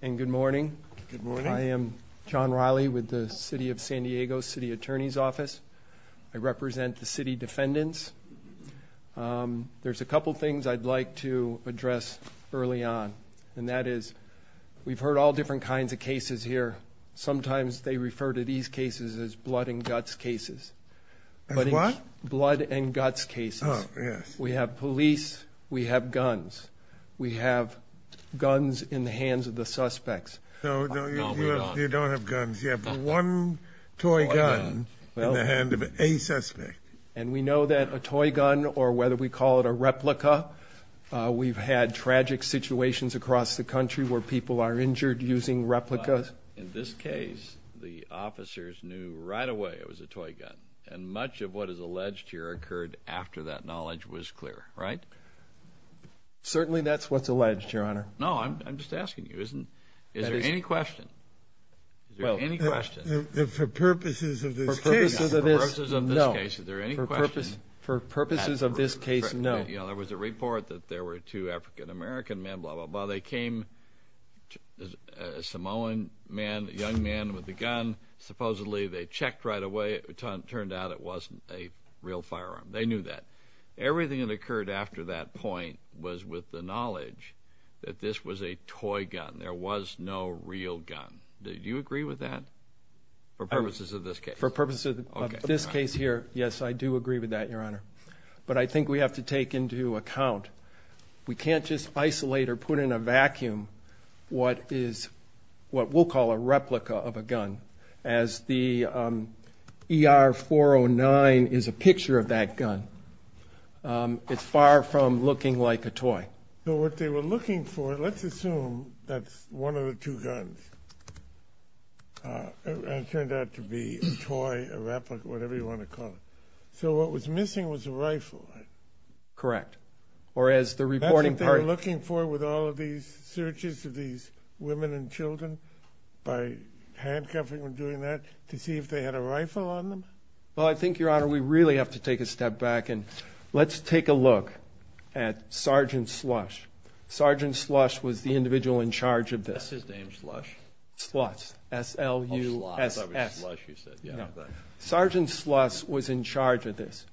And good morning. Good morning. I am John Riley with the City of San Diego City Attorney's Office. I represent the city defendants. There's a couple things I'd like to address early on and that is we've heard all different kinds of cases here. Sometimes they refer to these cases as blood and guts cases. What? Blood and guts cases. And we know that a toy gun or whether we call it a replica, we've had tragic situations across the country where people are injured using replicas. In this case, the officers knew right away it was a toy gun. And much of what is alleged here occurred after that knowledge was clear, right? Certainly that's what's alleged, Your Honor. No, I'm just asking you. Is there any question? For purposes of this case, no. There was a report that there were two African American men, blah, blah, blah. They came, a Samoan man, a young man with a gun. Supposedly they checked right away. It turned out it wasn't a real firearm. They knew that. Everything that occurred after that point was with the knowledge that this was a toy gun. There was no real gun. Do you agree with that? For purposes of this case? For purposes of this case here, yes, I do agree with that, Your Honor. But I think we have to take into account we can't just isolate or put in a vacuum what is what we'll call a replica of a gun. As the ER-409 is a picture of that gun, it's far from looking like a gun. Let's assume that's one of the two guns. It turned out to be a toy, a replica, whatever you want to call it. So what was missing was a rifle, right? Correct. Or as the reporting part- That's what they were looking for with all of these searches of these women and children by handcuffing and doing that to see if they had a rifle on them? Well, I think, Your Honor, we really have to take a step back and let's take a look at Sergeant Slush. Sergeant Slush was the individual in charge of this. That's his name, Slush? Slush, S-L-U-S-S. Oh, Slush, you said. Yeah. Sergeant Slush was in charge of this.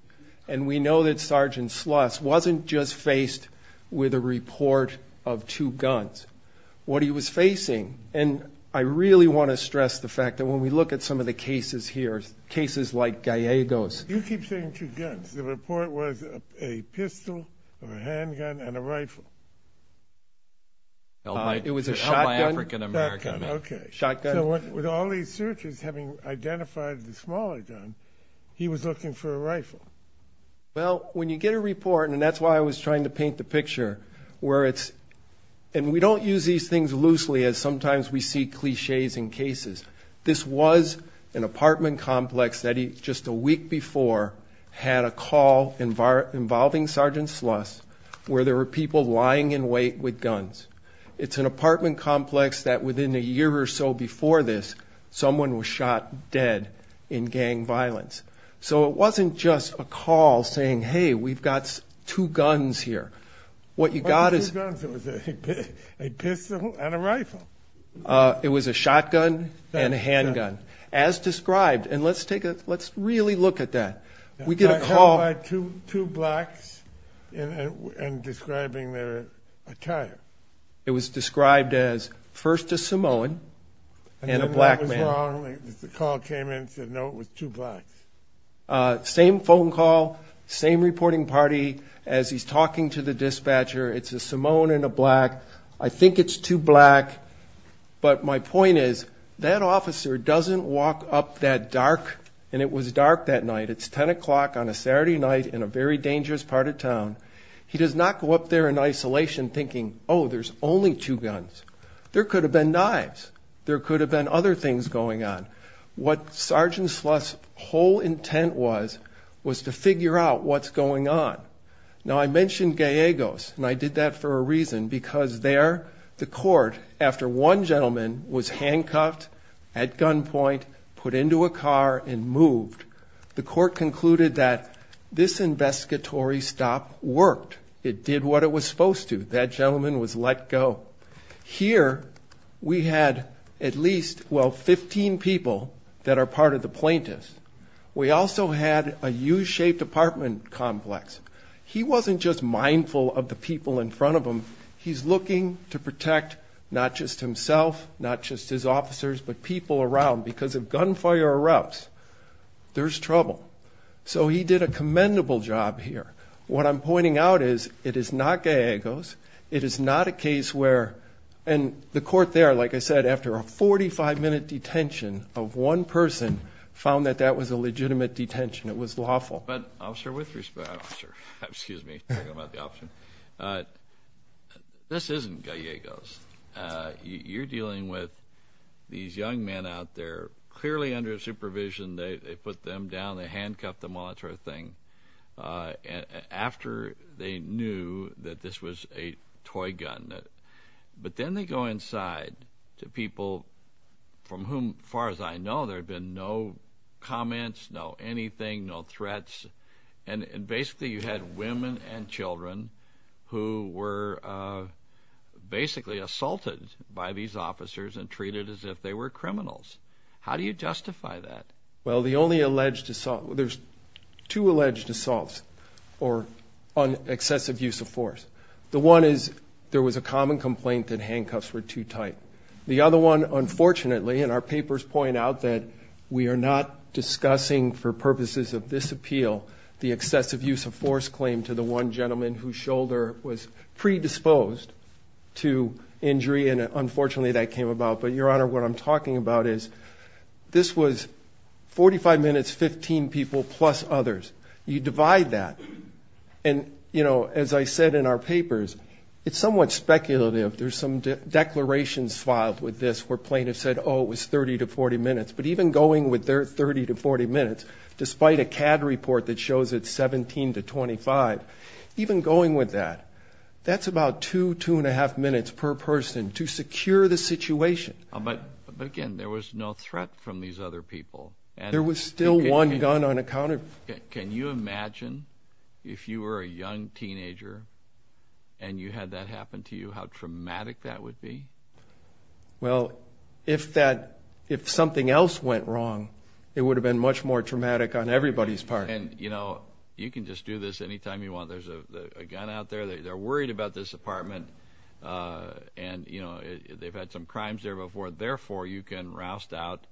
And we know that Sergeant Slush wasn't just faced with a report of two guns. What he was facing, and I really want to stress the fact that when we look at some of the cases here, cases like Gallego's- You keep saying two guns. The report was a pistol, or a handgun, and a rifle. It was a shotgun. L.Y. African American. Shotgun. Okay. So with all these searches, having identified the smaller gun, he was looking for a rifle. Well, when you get a report, and that's why I was trying to paint the picture, where it's- And we don't use these things loosely, as sometimes we see cliches in cases. This was an apartment complex that just a week before had a call involving Sergeant Slush, where there were people lying in wait with guns. It's an apartment complex that within a year or so before this, someone was shot dead in gang violence. So it wasn't just a call saying, hey, we've got two guns here. What you got is- It was a shotgun and a handgun, as described. And let's take a- Let's really look at that. We get a call- Shot by two blacks and describing their attire. It was described as first a Samoan and a black man. And then that was wrong. The call came in and said, no, it was two blacks. Same phone call, same reporting party. As he's talking to the dispatcher, it's a Samoan and a black. I think it's two black. But my point is, that officer doesn't walk up that dark. And it was dark that night. It's 10 o'clock on a Saturday night in a very dangerous part of town. He does not go up there in isolation thinking, oh, there's only two guns. There could have been knives. There could have been other things going on. What Sergeant Slush's whole intent was, was to figure out what's going on. Now, I mentioned Gallegos, and I did that for a reason. Because there, the court, after one gentleman was handcuffed at gunpoint, put into a car and moved, the court concluded that this investigatory stop worked. It did what it was supposed to. That gentleman was let go. Here, we had at least, well, 15 people that are part of the plaintiffs. We also had a U-shaped apartment complex. He wasn't just mindful of the people in front of him. He's looking to protect not just himself, not just his officers, but people around. Because if gunfire erupts, there's trouble. So he did a commendable job here. What I'm pointing out is, it is not Gallegos. It is not a case where, and the court there, like I said, after a 45-minute detention of one person, found that that was a legitimate detention. It was lawful. But, officer, with respect, excuse me, talking about the officer, this isn't Gallegos. You're dealing with these young men out there, clearly under supervision. They put them down, they handcuffed them, all that sort of thing, after they knew that this was a toy gun. But then they go inside to people from whom, far as I know, there have been no comments, no anything, no threats. And basically, you had women and children who were basically assaulted by these officers and treated as if they were criminals. How do you justify that? Well, the only alleged assault, there's two alleged assaults on excessive use of force. The one is, there was a common complaint that handcuffs were too tight. The other one, unfortunately, and our papers point out that we are not discussing, for purposes of this appeal, the excessive use of force claim to the one gentleman whose shoulder was predisposed to injury, and unfortunately that came about. But, Your Honor, what I'm talking about is, this was 45 minutes, 15 people plus others. You divide that. And, you know, as I said in our papers, it's somewhat speculative. There's some declarations filed with this where plaintiffs said, oh, it was 30 to 40 minutes. But even going with their 30 to 40 minutes, despite a CAD report that shows it's 17 to 25, even going with that, that's about two, two and a half minutes per person to secure the situation. But, again, there was no threat from these other people. There was still one gun unaccounted for. Can you imagine, if you were a young teenager, and you had that happen to you, how traumatic that would be? Well, if that, if something else went wrong, it would have been much more traumatic on everybody's part. And, you know, you can just do this any time you want. There's a gun out there. They're worried about this apartment. And, you know, they've had some crimes there before. Therefore, you can roust out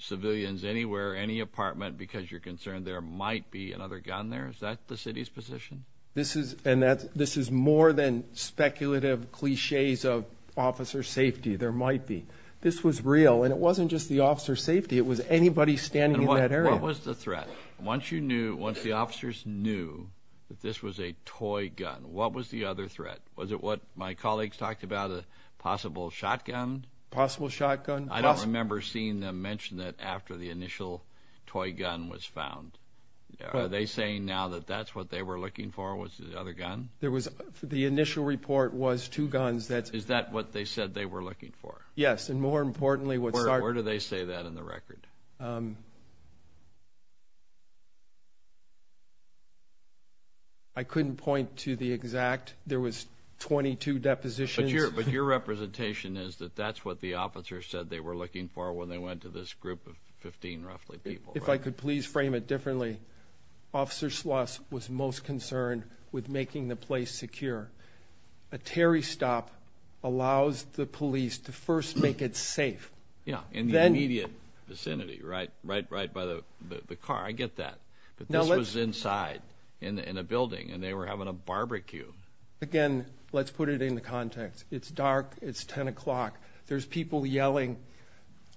civilians anywhere, any apartment, because you're concerned there might be another gun there. Is that the city's position? This is, and that, this is more than speculative cliches of officer safety. There might be. This was real. And it wasn't just the officer's safety. It was anybody standing in that area. What was the threat? Once you knew, once the officers knew that this was a toy gun, what was the other threat? Was it what my colleagues talked about, a possible shotgun? Possible shotgun? I don't remember seeing them mention that after the initial toy gun was found. Are they saying now that that's what they were looking for, was it the other gun? There was, the initial report was two guns that's... Is that what they said they were looking for? Yes. And more importantly, what started... Where do they say that in the record? I couldn't point to the exact. There was 22 depositions. But your representation is that that's what the officers said they were looking for when they went to this group of 15 roughly people, right? If I could please frame it differently, Officer Schloss was most concerned with making the place secure. A terry stop allows the police to first make it safe. Yeah, in the immediate vicinity, right? Right by the car. I get that. But this was inside in a building and they were having a barbecue. Again, let's put it in the context. It's dark. It's 10 o'clock. There's people yelling.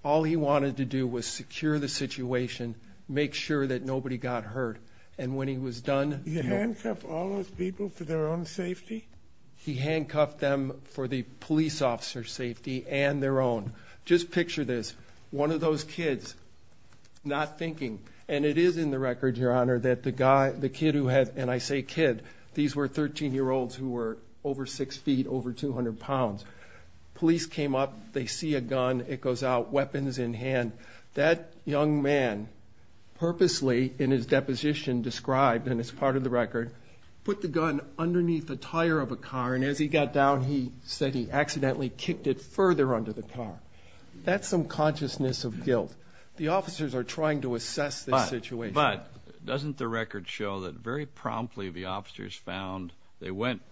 All he wanted to do was secure the situation, make sure that nobody got hurt. And when he was done... He handcuffed all those people for their own safety? He handcuffed them for the police officer's safety and their own. Just picture this, one of those kids not thinking. And it is in the record, Your Honor, that the guy, the kid who had, and I say kid, these were 13 year olds who were over six feet, over 200 pounds. Police came up, they see a gun, it goes out, weapons in hand. That young man purposely in his deposition described, and it's part of the record, put the gun underneath the tire of a car. And as he got down, he said he accidentally kicked it further under the car. That's some consciousness of guilt. The officers are trying to assess this situation. But doesn't the record show that very promptly the officers found, they went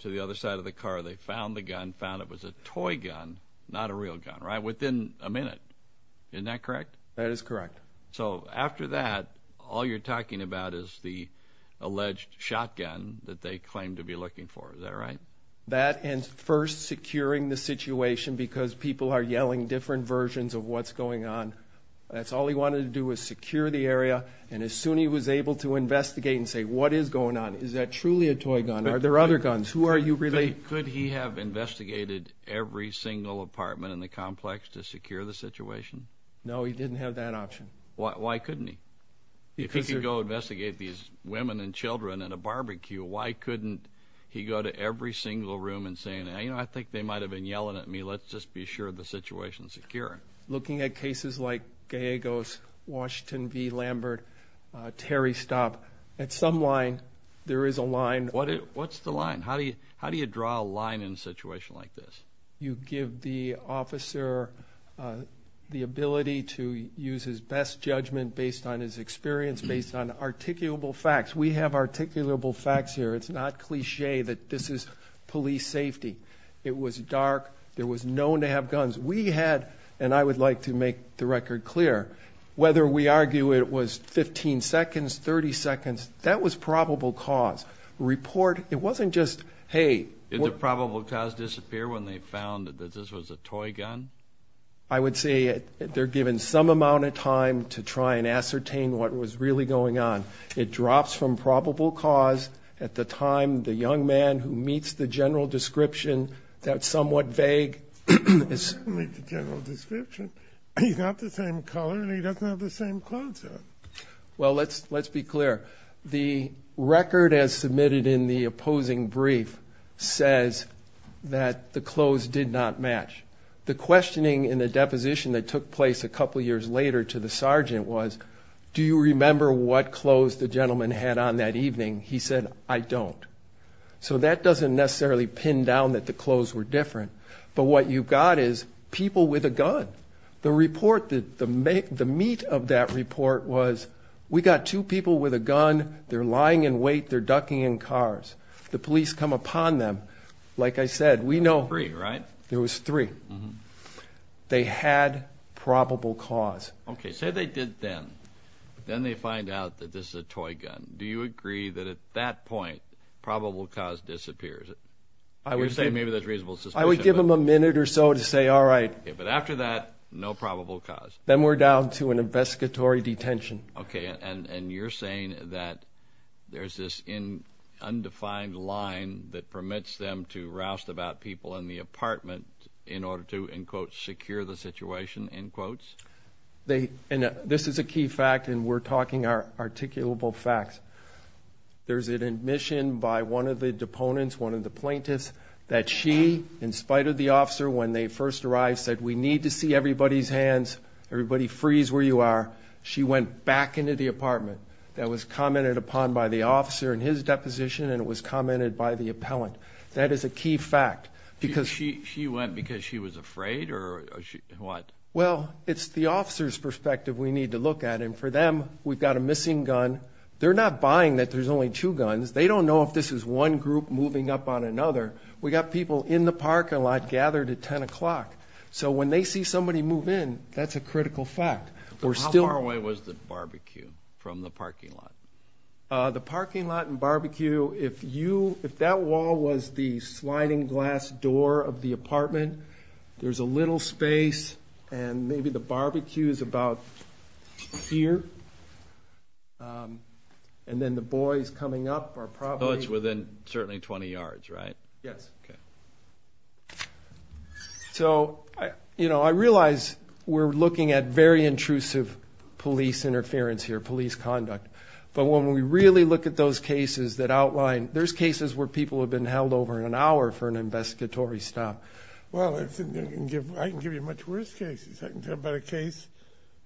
to the other side of the car, they found the gun, found it was a toy gun, not a real gun, right? Within a minute. Isn't that correct? That is correct. So after that, all you're talking about is the alleged shotgun that they claim to be looking for. Is that right? That and first securing the situation because people are yelling different versions of what's going on. That's all he wanted to do was secure the area. And as soon as he was able to investigate and say, what is going on? Is that truly a toy gun? Are there other guns? Who are you related? Could he have investigated every single apartment in the complex to secure the situation? No, he didn't have that option. Why couldn't he? If he could go investigate these women and children at a barbecue, why couldn't he go to every single room and say, you know, I think they might have been yelling at me. Let's just be sure the situation is secure. Looking at cases like Gallegos, Washington v. Lambert, Terry Stopp, at some line, there is a line. What's the line? How do you draw a line in a situation like this? You give the officer the ability to use his best judgment based on his experience, based on articulable facts. We have articulable facts here. It's not cliche that this is police And I would like to make the record clear, whether we argue it was 15 seconds, 30 seconds, that was probable cause. Did the probable cause disappear when they found that this was a toy gun? I would say they're given some amount of time to try and ascertain what was really going on. It drops from probable cause at the time the young man who meets the general description that's somewhat vague. He's not the same color and he doesn't have the same clothes on. Well, let's be clear. The record as submitted in the opposing brief says that the clothes did not match. The questioning in the deposition that took place a couple years later to the sergeant was, do you remember what clothes the gentleman had on that evening? He said, I don't. So that doesn't necessarily pin down that the clothes were different, but what you've got is people with a gun. The report, the meat of that report was, we got two people with a gun, they're lying in wait, they're ducking in cars. The police come upon them. Like I said, we know. Three, right? There was three. They had probable cause. Okay, say they did then. Then they find out that this is a toy gun. Do you agree that at that point, probable cause disappears? I would say maybe there's reasonable suspicion. I would give them a minute or so to say, all right. Yeah, but after that, no probable cause. Then we're down to an investigatory detention. Okay, and you're saying that there's this undefined line that permits them to roust about people in the apartment in order to, in quotes, secure the situation, in quotes? They, and this is a key fact, and we're talking articulable facts. There's an admission by one of the deponents, one of the plaintiffs, that she, in spite of the officer when they first arrived, said, we need to see everybody's hands. Everybody freeze where you are. She went back into the apartment. That was commented upon by the officer in his deposition, and it was commented by the appellant. That is a key fact, because- She went because she was afraid, or what? Well, it's the officer's perspective we need to look at, and for them, we've got a missing gun. They're not buying that there's only two guns. They don't know if this is one group moving up on another. We got people in the parking lot gathered at 10 o'clock, so when they see somebody move in, that's a critical fact. How far away was the barbecue from the parking lot? The parking lot and barbecue, if that wall was the sliding glass door of the apartment, there's a little space, and maybe the barbecue is about here, and then the boys coming up are probably- So it's within, certainly, 20 yards, right? Yes. So, you know, I realize we're looking at very intrusive police interference here, police conduct, but when we really look at those cases that outline, there's cases where people have been held over an hour for an investigatory stop. Well, I can give you much worse cases. I can tell you about a case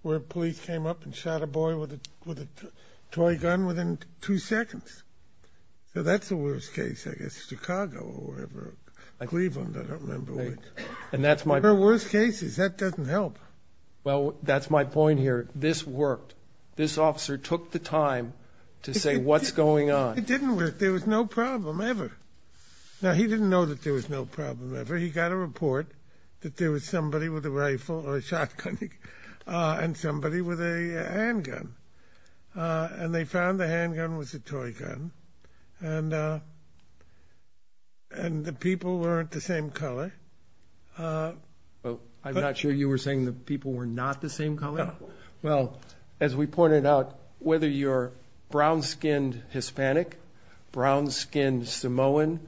where police came up and shot a boy with a toy gun within two seconds. So that's the worst case, I guess, Chicago or whatever, Cleveland, I don't remember which, but there are worse cases. That doesn't help. Well, that's my point here. This worked. This officer took the time to say what's going on. It didn't work. There was no problem ever. Now, he didn't know that there was no problem ever. He got a report that there was somebody with a rifle or a shotgun and somebody with a handgun, and they found the handgun was a toy gun, and the people weren't the same color. I'm not sure you were saying the people were not the same color? No. Well, as we pointed out, whether you're brown-skinned Hispanic, brown-skinned Samoan,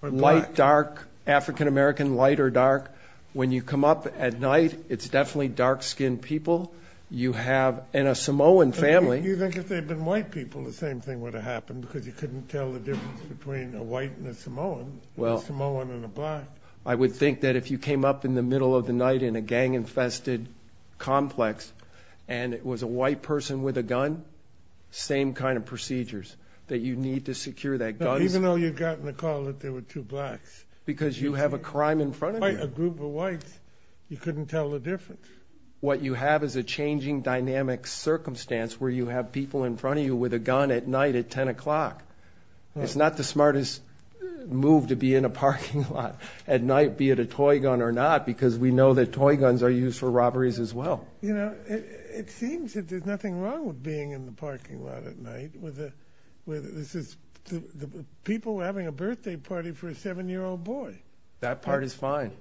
white, dark, African-American, light or dark, when you come up at night, it's definitely dark-skinned people. You have, in a Samoan family... You think if they'd been white people, the same thing would have happened because you couldn't tell the difference between a white and a Samoan, a Samoan and a black. I would think that if you came up in the middle of the night in a gang-infested complex and it was a white person with a gun, same kind of procedures that you need to secure that gun. Even though you'd gotten a call that there were two blacks. Because you have a crime in front of you. A group of whites, you couldn't tell the difference. What you have is a changing dynamic circumstance where you have people in front of you with a gun at night at 10 o'clock. It's not the smartest move to be in a parking lot at night, be it a toy gun or not, because we know that toy guns are used for robberies as well. You know, it seems that there's nothing wrong with being in the parking lot at night. People having a birthday party for a seven-year-old boy. That part is fine.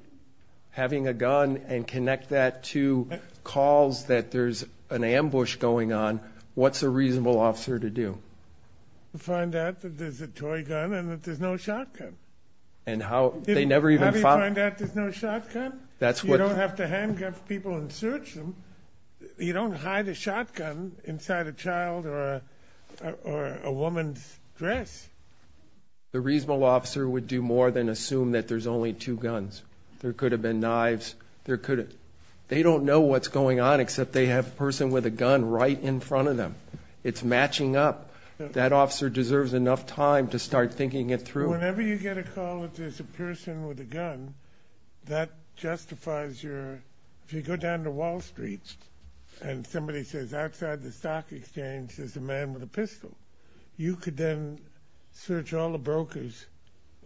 Having a gun and connect that to calls that there's an ambush going on, what's a reasonable officer to do? Find out that there's a toy gun and that there's no shotgun. And how, they never even find out there's no shotgun? That's what... You don't have to handgun people and search them. You don't hide a shotgun inside a child or a woman's dress. The reasonable officer would do more than assume that there's only two guns. There could have been knives, there could have... They don't know what's going on except they have a person with a gun right in front of them. It's matching up. That officer deserves enough time to start thinking it through. Whenever you get a call that there's a person with a gun, that justifies your... If you go down to Wall Street and somebody says, outside the stock exchange, there's a man with a pistol, you could then search all the brokers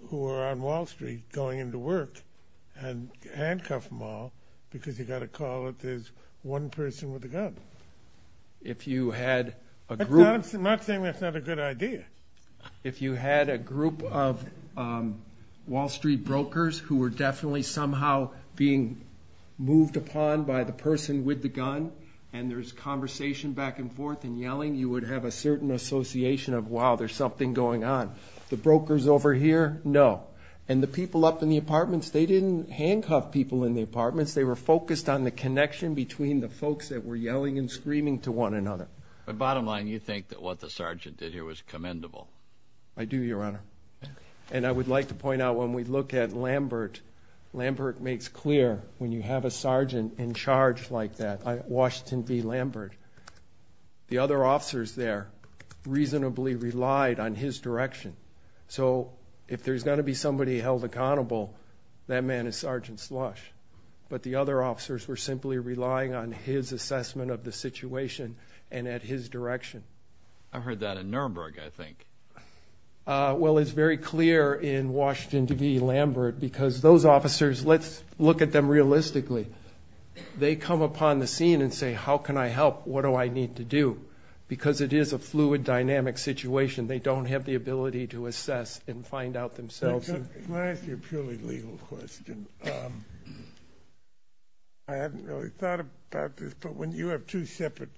who are on Wall Street going to work and handcuff them all because you got a call that there's one person with a gun. If you had a group... I'm not saying that's not a good idea. If you had a group of Wall Street brokers who were definitely somehow being moved upon by the person with the gun and there's conversation back and forth and yelling, you would have a certain association of, wow, there's something going on. The brokers over here, no. The people up in the apartments, they didn't handcuff people in the apartments. They were focused on the connection between the folks that were yelling and screaming to one another. But bottom line, you think that what the sergeant did here was commendable? I do, Your Honor. And I would like to point out, when we look at Lambert, Lambert makes clear, when you have a sergeant in charge like that, Washington v. Lambert, the other officers there reasonably relied on his direction. So if there's going to be somebody held accountable, that man is Sergeant Slush. But the other officers were simply relying on his assessment of the situation and at his direction. I heard that in Nuremberg, I think. Well, it's very clear in Washington v. Lambert because those officers, let's look at them realistically. They come upon the scene and say, how can I help? What do I need to do? Because it is a fluid, dynamic situation. They don't have the ability to assess and find out themselves. Let me ask you a purely legal question. I hadn't really thought about this, but when you have two separate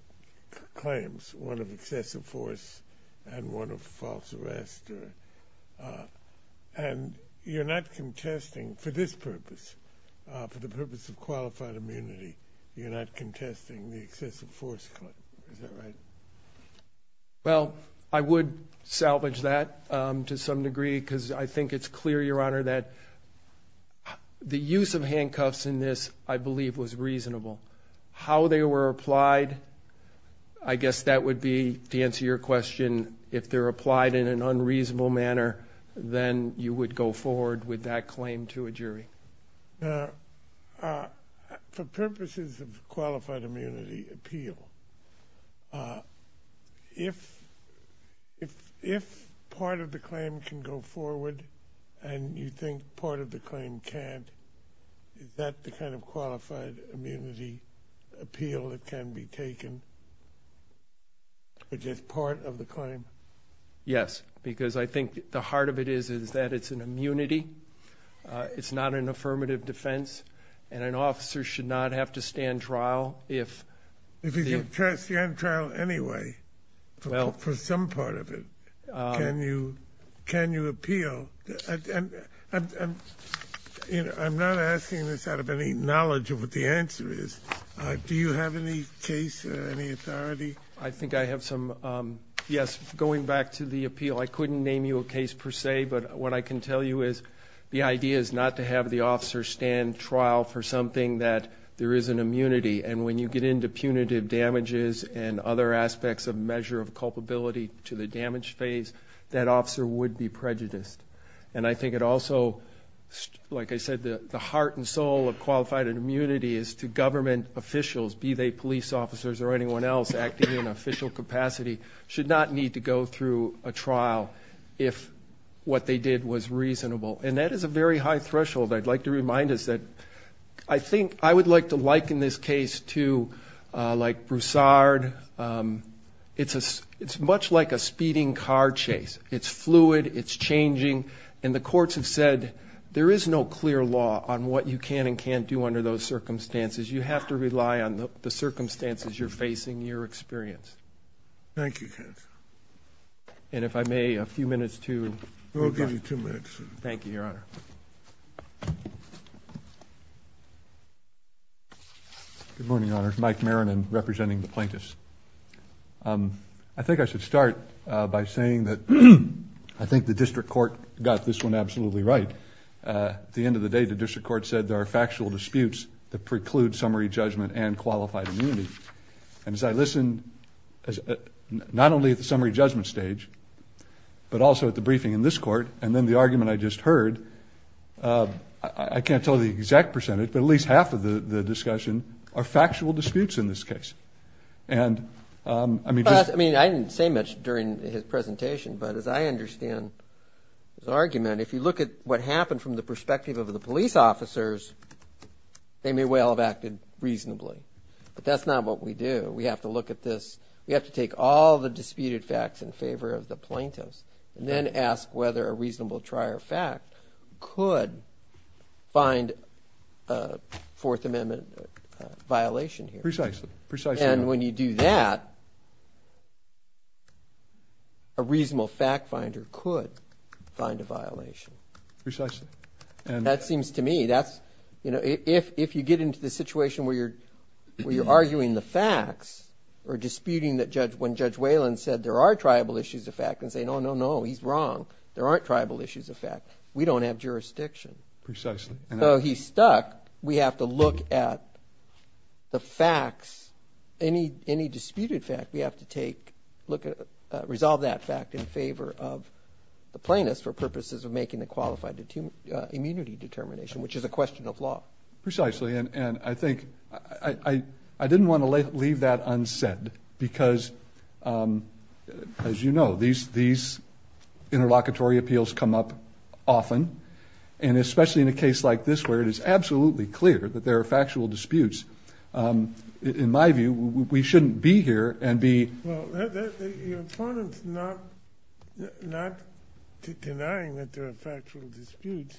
claims, one of excessive force and one of false arrest, and you're not contesting for this purpose, for the purpose of qualified immunity, you're not contesting the excessive force claim. Is that right? Well, I would salvage that to some degree because I think it's clear, Your Honor, that the use of handcuffs in this, I believe, was reasonable. How they were applied, I guess that would be, to answer your question, if they're applied in an unreasonable manner, then you would go forward with that claim to a jury. Now, for purposes of qualified immunity appeal, if part of the claim can go forward and you think part of the claim can't, is that the kind of qualified immunity appeal that can be taken for just part of the claim? Yes, because I think the heart of it is that it's an immunity. It's not an affirmative defense, and an officer should not have to stand trial if the... If he's going to stand trial anyway, for some part of it, can you appeal? I'm not asking this out of any knowledge of what the answer is. Do you have any case or any authority? I think I have some, yes, going back to the appeal. I couldn't name you a case per se, but what I can tell you is the idea is not to have the officer stand trial for something that there is an immunity, and when you get into punitive damages and other aspects of measure of culpability to the damage phase, that officer would be prejudiced. I think it also, like I said, the heart and soul of qualified immunity is to government officials, be they police officers or anyone else, acting in an official capacity, should not need to go through a trial if what they did was reasonable, and that is a very high threshold I'd like to remind us that. I think I would like to liken this case to, like, Broussard. It's much like a speeding car chase. It's fluid. It's changing, and the courts have said there is no clear law on what you can and can't do under those circumstances. You have to rely on the circumstances you're facing, your experience. Thank you, counsel. And if I may, a few minutes to rebut. We'll give you two minutes. Thank you, Your Honor. Good morning, Your Honors. Mike Maronin, representing the plaintiffs. I think I should start by saying that I think the district court got this one absolutely right. At the end of the day, the district court said there are factual disputes that preclude summary judgment and qualified immunity. And as I listened, not only at the summary judgment stage, but also at the briefing in this court, and then the argument I just heard, I can't tell the exact percentage, but at least half of the discussion are factual disputes in this case. I mean, I didn't say much during his presentation, but as I understand his argument, if you look at what happened from the perspective of the police officers, they may well have acted reasonably. But that's not what we do. We have to look at this. We have to take all the disputed facts in favor of the plaintiffs and then ask whether a reasonable trier fact could find a Fourth Amendment violation here. Precisely. Precisely. And when you do that, a reasonable fact finder could find a violation. Precisely. That seems to me, that's, you know, if you get into the situation where you're arguing the facts or disputing that when Judge Whalen said there are triable issues of fact and say, no, no, no, he's wrong, there aren't triable issues of fact, we don't have jurisdiction. Precisely. So he's stuck. We have to look at the facts, any disputed fact, we have to take, look at, resolve that fact in favor of the plaintiffs for purposes of making a qualified immunity determination, which is a question of law. Precisely. And I think, I didn't want to leave that unsaid because, as you know, these interlocutory appeals come up often, and especially in a case like this where it is absolutely clear that there are factual disputes, in my view, we shouldn't be here and be... Well, your opponent's not denying that there are factual disputes,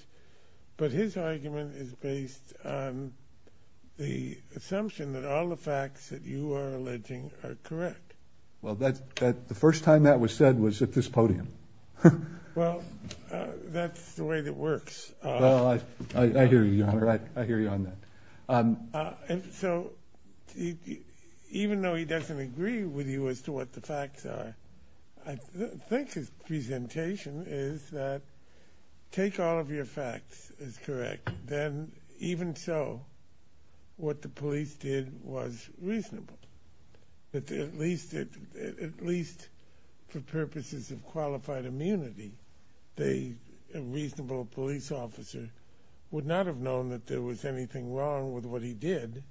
but his argument is based on the assumption that all the facts that you are alleging are correct. Well, the first time that was said was at this podium. Well, that's the way that works. Well, I hear you, Your Honor, I hear you on that. And so, even though he doesn't agree with you as to what the facts are, I think his presentation is that, take all of your facts as correct, then even so, what the police did was reasonable. At least for purposes of qualified immunity, a reasonable police officer would not have found that there was anything wrong with what he did,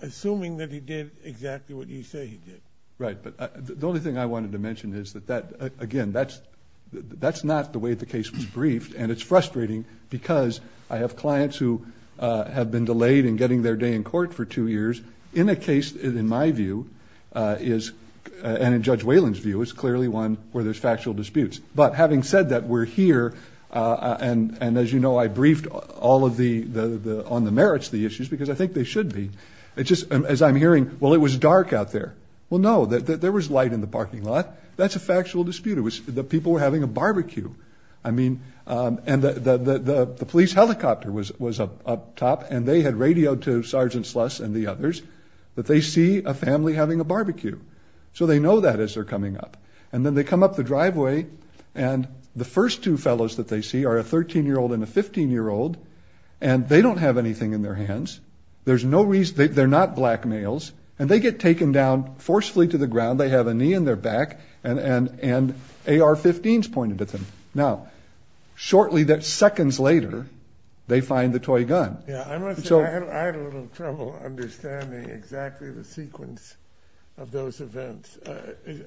assuming that he did exactly what you say he did. Right. But the only thing I wanted to mention is that, again, that's not the way the case was briefed, and it's frustrating because I have clients who have been delayed in getting their day in court for two years in a case that, in my view, and in Judge Whalen's view, is clearly one where there's factual disputes. But having said that, we're here, and as you know, I briefed all of the, on the merits of the issues, because I think they should be. It's just, as I'm hearing, well, it was dark out there. Well, no, there was light in the parking lot. That's a factual dispute. It was, the people were having a barbecue. I mean, and the police helicopter was up top, and they had radioed to Sergeant Sluss and the others that they see a family having a barbecue. So they know that as they're coming up. And then they come up the driveway, and the first two fellows that they see are a 13-year-old and a 15-year-old, and they don't have anything in their hands. There's no reason, they're not black males, and they get taken down forcefully to the ground. They have a knee in their back, and AR-15s pointed at them. Now, shortly, that seconds later, they find the toy gun. Yeah, I must say, I had a little trouble understanding exactly the sequence of those events.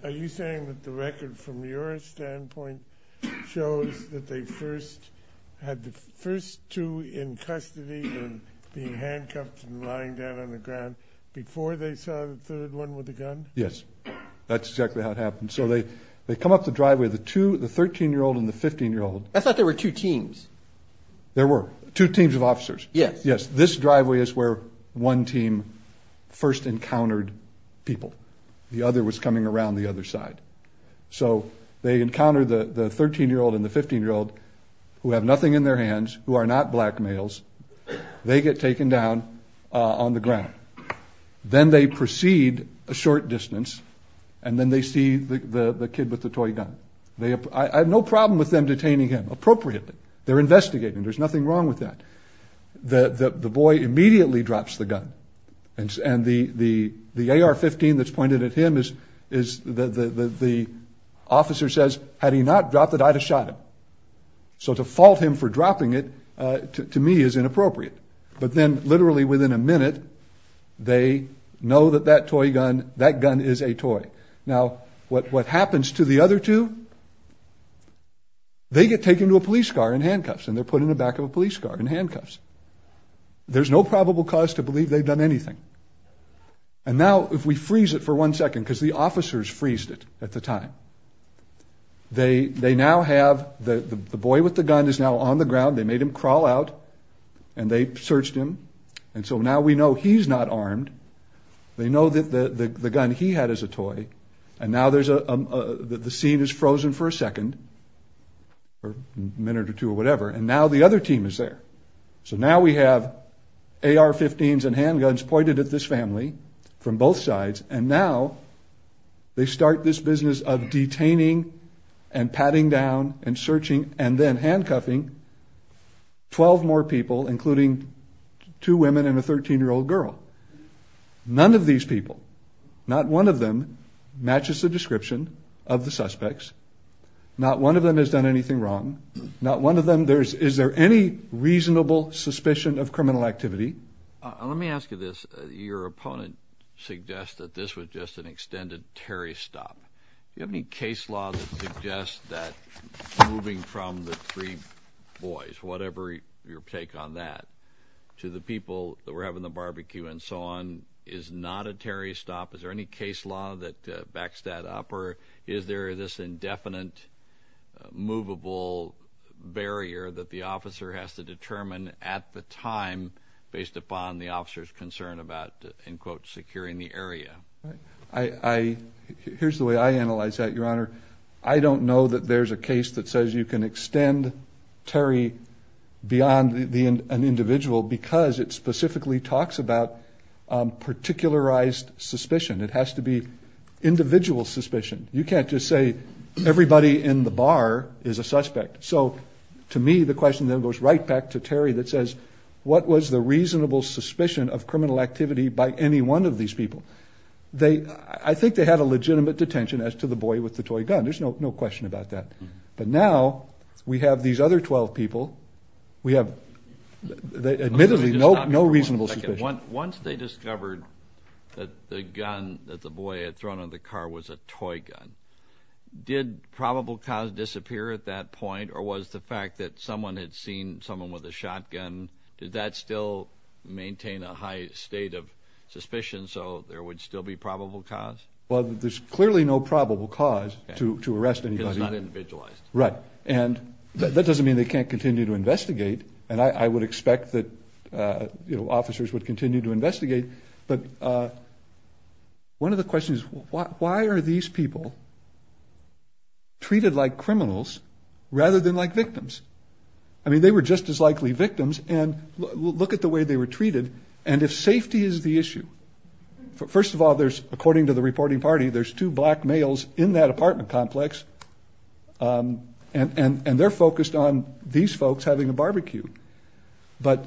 Are you saying that the record, from your standpoint, shows that they first had the first two in custody and being handcuffed and lying down on the ground before they saw the third one with the gun? Yes. That's exactly how it happened. So they come up the driveway, the two, the 13-year-old and the 15-year-old. I thought there were two teams. There were. Two teams of officers. Yes. Yes. This driveway is where one team first encountered people. The other was coming around the other side. So they encounter the 13-year-old and the 15-year-old, who have nothing in their hands, who are not black males. They get taken down on the ground. Then they proceed a short distance, and then they see the kid with the toy gun. I have no problem with them detaining him appropriately. They're investigating. There's nothing wrong with that. The boy immediately drops the gun. And the AR-15 that's pointed at him, the officer says, had he not dropped it, I'd have shot him. So to fault him for dropping it, to me, is inappropriate. But then, literally within a minute, they know that that toy gun, that gun is a toy. Now, what happens to the other two? They get taken to a police car and handcuffed. And they're put in the back of a police car in handcuffs. There's no probable cause to believe they've done anything. And now, if we freeze it for one second, because the officers freezed it at the time, they now have the boy with the gun is now on the ground. They made him crawl out. And they searched him. And so now we know he's not armed. They know that the gun he had is a toy. And now the scene is frozen for a second or a minute or two or whatever. And now the other team is there. So now we have AR-15s and handguns pointed at this family from both sides. And now they start this business of detaining and patting down and searching and then handcuffing 12 more people, including two women and a 13-year-old girl. None of these people, not one of them, matches the description of the suspects. Not one of them has done anything wrong. Is there any reasonable suspicion of criminal activity? Let me ask you this. Your opponent suggests that this was just an extended Terry stop. Do you have any case law that suggests that moving from the three boys, whatever your take on that, to the people that were having the barbecue and so on is not a Terry stop? Is there any case law that backs that up? Or is there this indefinite movable barrier that the officer has to determine at the time based upon the officer's concern about, in quotes, securing the area? Here's the way I analyze that, Your Honor. I don't know that there's a case that says you can extend Terry beyond an individual because it specifically talks about particularized suspicion. It has to be individual suspicion. You can't just say everybody in the bar is a suspect. So to me, the question then goes right back to Terry that says, what was the reasonable suspicion of criminal activity by any one of these people? I think they had a legitimate detention as to the boy with the toy gun. There's no question about that. But now we have these other 12 people. We have admittedly no reasonable suspicion. Once they discovered that the gun that the boy had thrown on the car was a toy gun, did probable cause disappear at that point, or was the fact that someone had seen someone with a shotgun, did that still maintain a high state of suspicion so there would still be probable cause? Well, there's clearly no probable cause to arrest anybody. Because it's not individualized. Right. And that doesn't mean they can't continue to investigate, and I would expect that officers would continue to investigate. But one of the questions is, why are these people treated like criminals rather than like victims? I mean, they were just as likely victims. And look at the way they were treated. And if safety is the issue, first of all, according to the reporting party, there's two black males in that apartment complex, and they're focused on these folks having a barbecue. So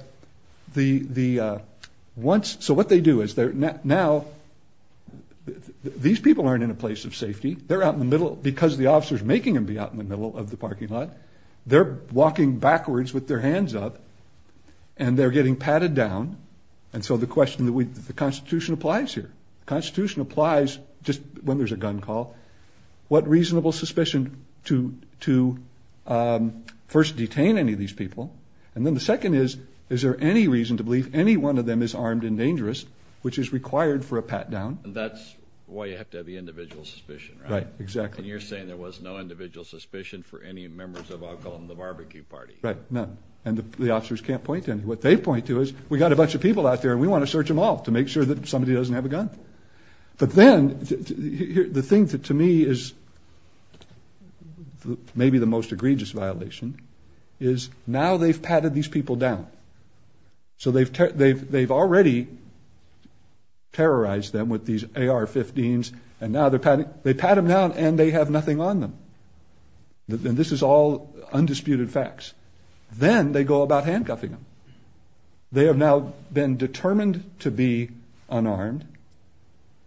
what they do is now these people aren't in a place of safety. They're out in the middle, because the officer is making them be out in the middle of the parking lot. They're walking backwards with their hands up, and they're getting patted down. And so the question that the Constitution applies here, the Constitution applies just when there's a gun call, what reasonable suspicion to first detain any of these people? And then the second is, is there any reason to believe any one of them is armed and dangerous, which is required for a pat down? And that's why you have to have the individual suspicion, right? Right, exactly. And you're saying there was no individual suspicion for any members of I'll call them the barbecue party. Right, none. And the officers can't point to any. What they point to is, we've got a bunch of people out there, and we want to search them all to make sure that somebody doesn't have a gun. But then the thing that to me is maybe the most egregious violation is now they've patted these people down. So they've already terrorized them with these AR-15s, and now they're patting them down, and they have nothing on them. And this is all undisputed facts. Then they go about handcuffing them. They have now been determined to be unarmed,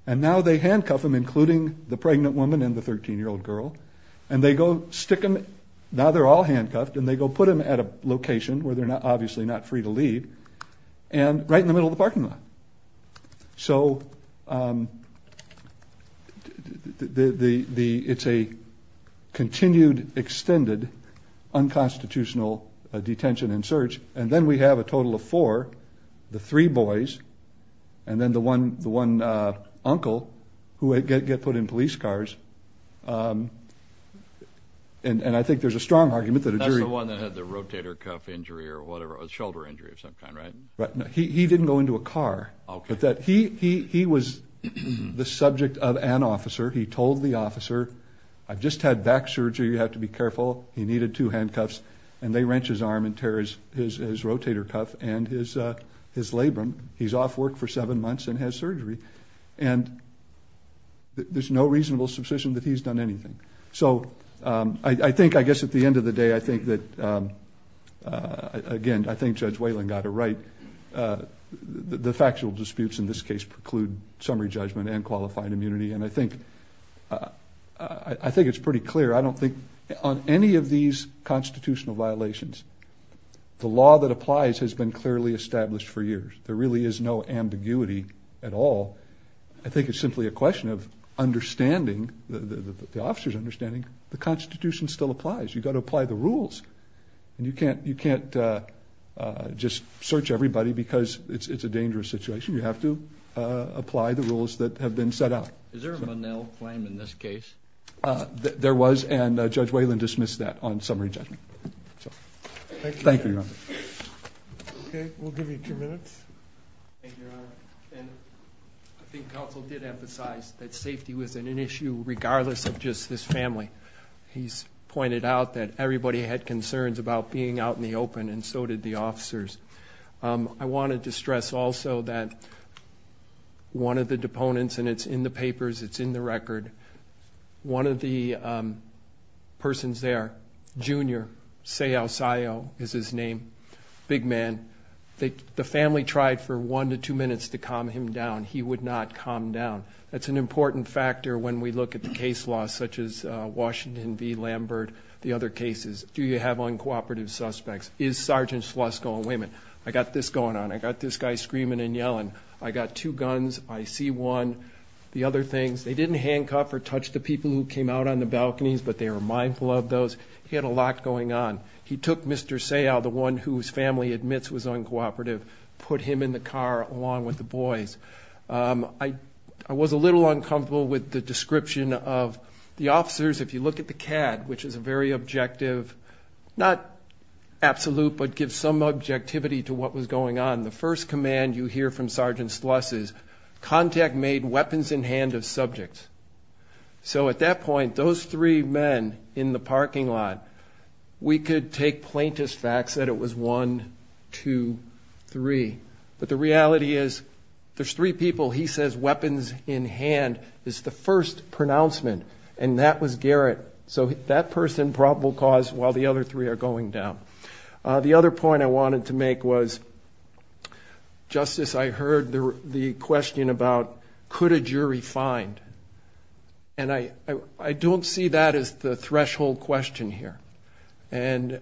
and now they handcuff them, including the pregnant woman and the 13-year-old girl, and they go stick them. Now they're all handcuffed, and they go put them at a location where they're obviously not free to leave, and right in the middle of the parking lot. So it's a continued, extended, unconstitutional detention and search. And then we have a total of four, the three boys, and then the one uncle who would get put in police cars. And I think there's a strong argument that a jury. That's the one that had the rotator cuff injury or whatever, a shoulder injury of some kind, right? He didn't go into a car. He was the subject of an officer. He told the officer, I've just had back surgery. You have to be careful. He needed two handcuffs. And they wrench his arm and tear his rotator cuff and his labrum. He's off work for seven months and has surgery. And there's no reasonable suspicion that he's done anything. So I think, I guess at the end of the day, I think that, again, I think Judge Whalen got it right. The factual disputes in this case preclude summary judgment and qualified immunity. And I think it's pretty clear. I don't think on any of these constitutional violations, the law that applies has been clearly established for years. There really is no ambiguity at all. I think it's simply a question of understanding, the officer's understanding, the Constitution still applies. You've got to apply the rules. And you can't just search everybody because it's a dangerous situation. You have to apply the rules that have been set out. Is there a Monell claim in this case? There was, and Judge Whalen dismissed that on summary judgment. Thank you, Your Honor. Okay, we'll give you two minutes. Thank you, Your Honor. And I think counsel did emphasize that safety was an issue, regardless of just his family. He's pointed out that everybody had concerns about being out in the open, and so did the officers. I wanted to stress also that one of the deponents, and it's in the papers, it's in the record, one of the persons there, Junior Seausayo is his name, big man, the family tried for one to two minutes to calm him down. He would not calm down. That's an important factor when we look at the case law, such as Washington v. Lambert, the other cases. Do you have uncooperative suspects? Is Sergeant Schloss going, wait a minute, I got this going on. I got this guy screaming and yelling. I got two guns. I see one. The other things, they didn't handcuff or touch the people who came out on the balconies, but they were mindful of those. He had a lot going on. He took Mr. Seaus, the one whose family admits was uncooperative, put him in the car along with the boys. I was a little uncomfortable with the description of the officers. If you look at the CAD, which is a very objective, not absolute, but gives some objectivity to what was going on, the first command you hear from Sergeant Schloss is, contact made weapons in hand of subjects. So at that point, those three men in the parking lot, we could take plaintiff's facts that it was one, two, three. But the reality is there's three people he says weapons in hand is the first pronouncement, and that was Garrett. So that person probable cause while the other three are going down. The other point I wanted to make was, Justice, I heard the question about could a jury find. And I don't see that as the threshold question here. And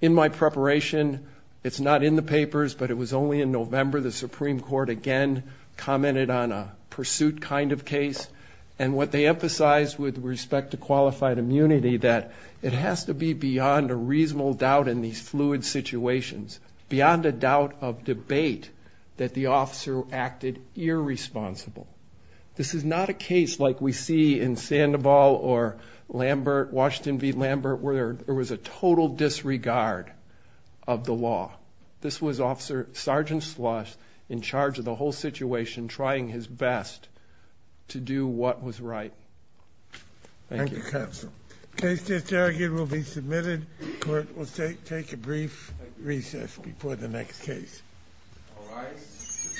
in my preparation, it's not in the papers, but it was only in November the Supreme Court, again, commented on a pursuit kind of case. And what they emphasized with respect to qualified immunity, that it has to be beyond a reasonable doubt in these fluid situations, beyond a doubt of debate that the officer acted irresponsible. This is not a case like we see in Sandoval or Lambert, Washington v. Lambert, where there was a total disregard of the law. This was Officer Sergeant Slush in charge of the whole situation, trying his best to do what was right. Thank you. Thank you, counsel. Case to interrogate will be submitted. Court will take a brief recess before the next case. All rise.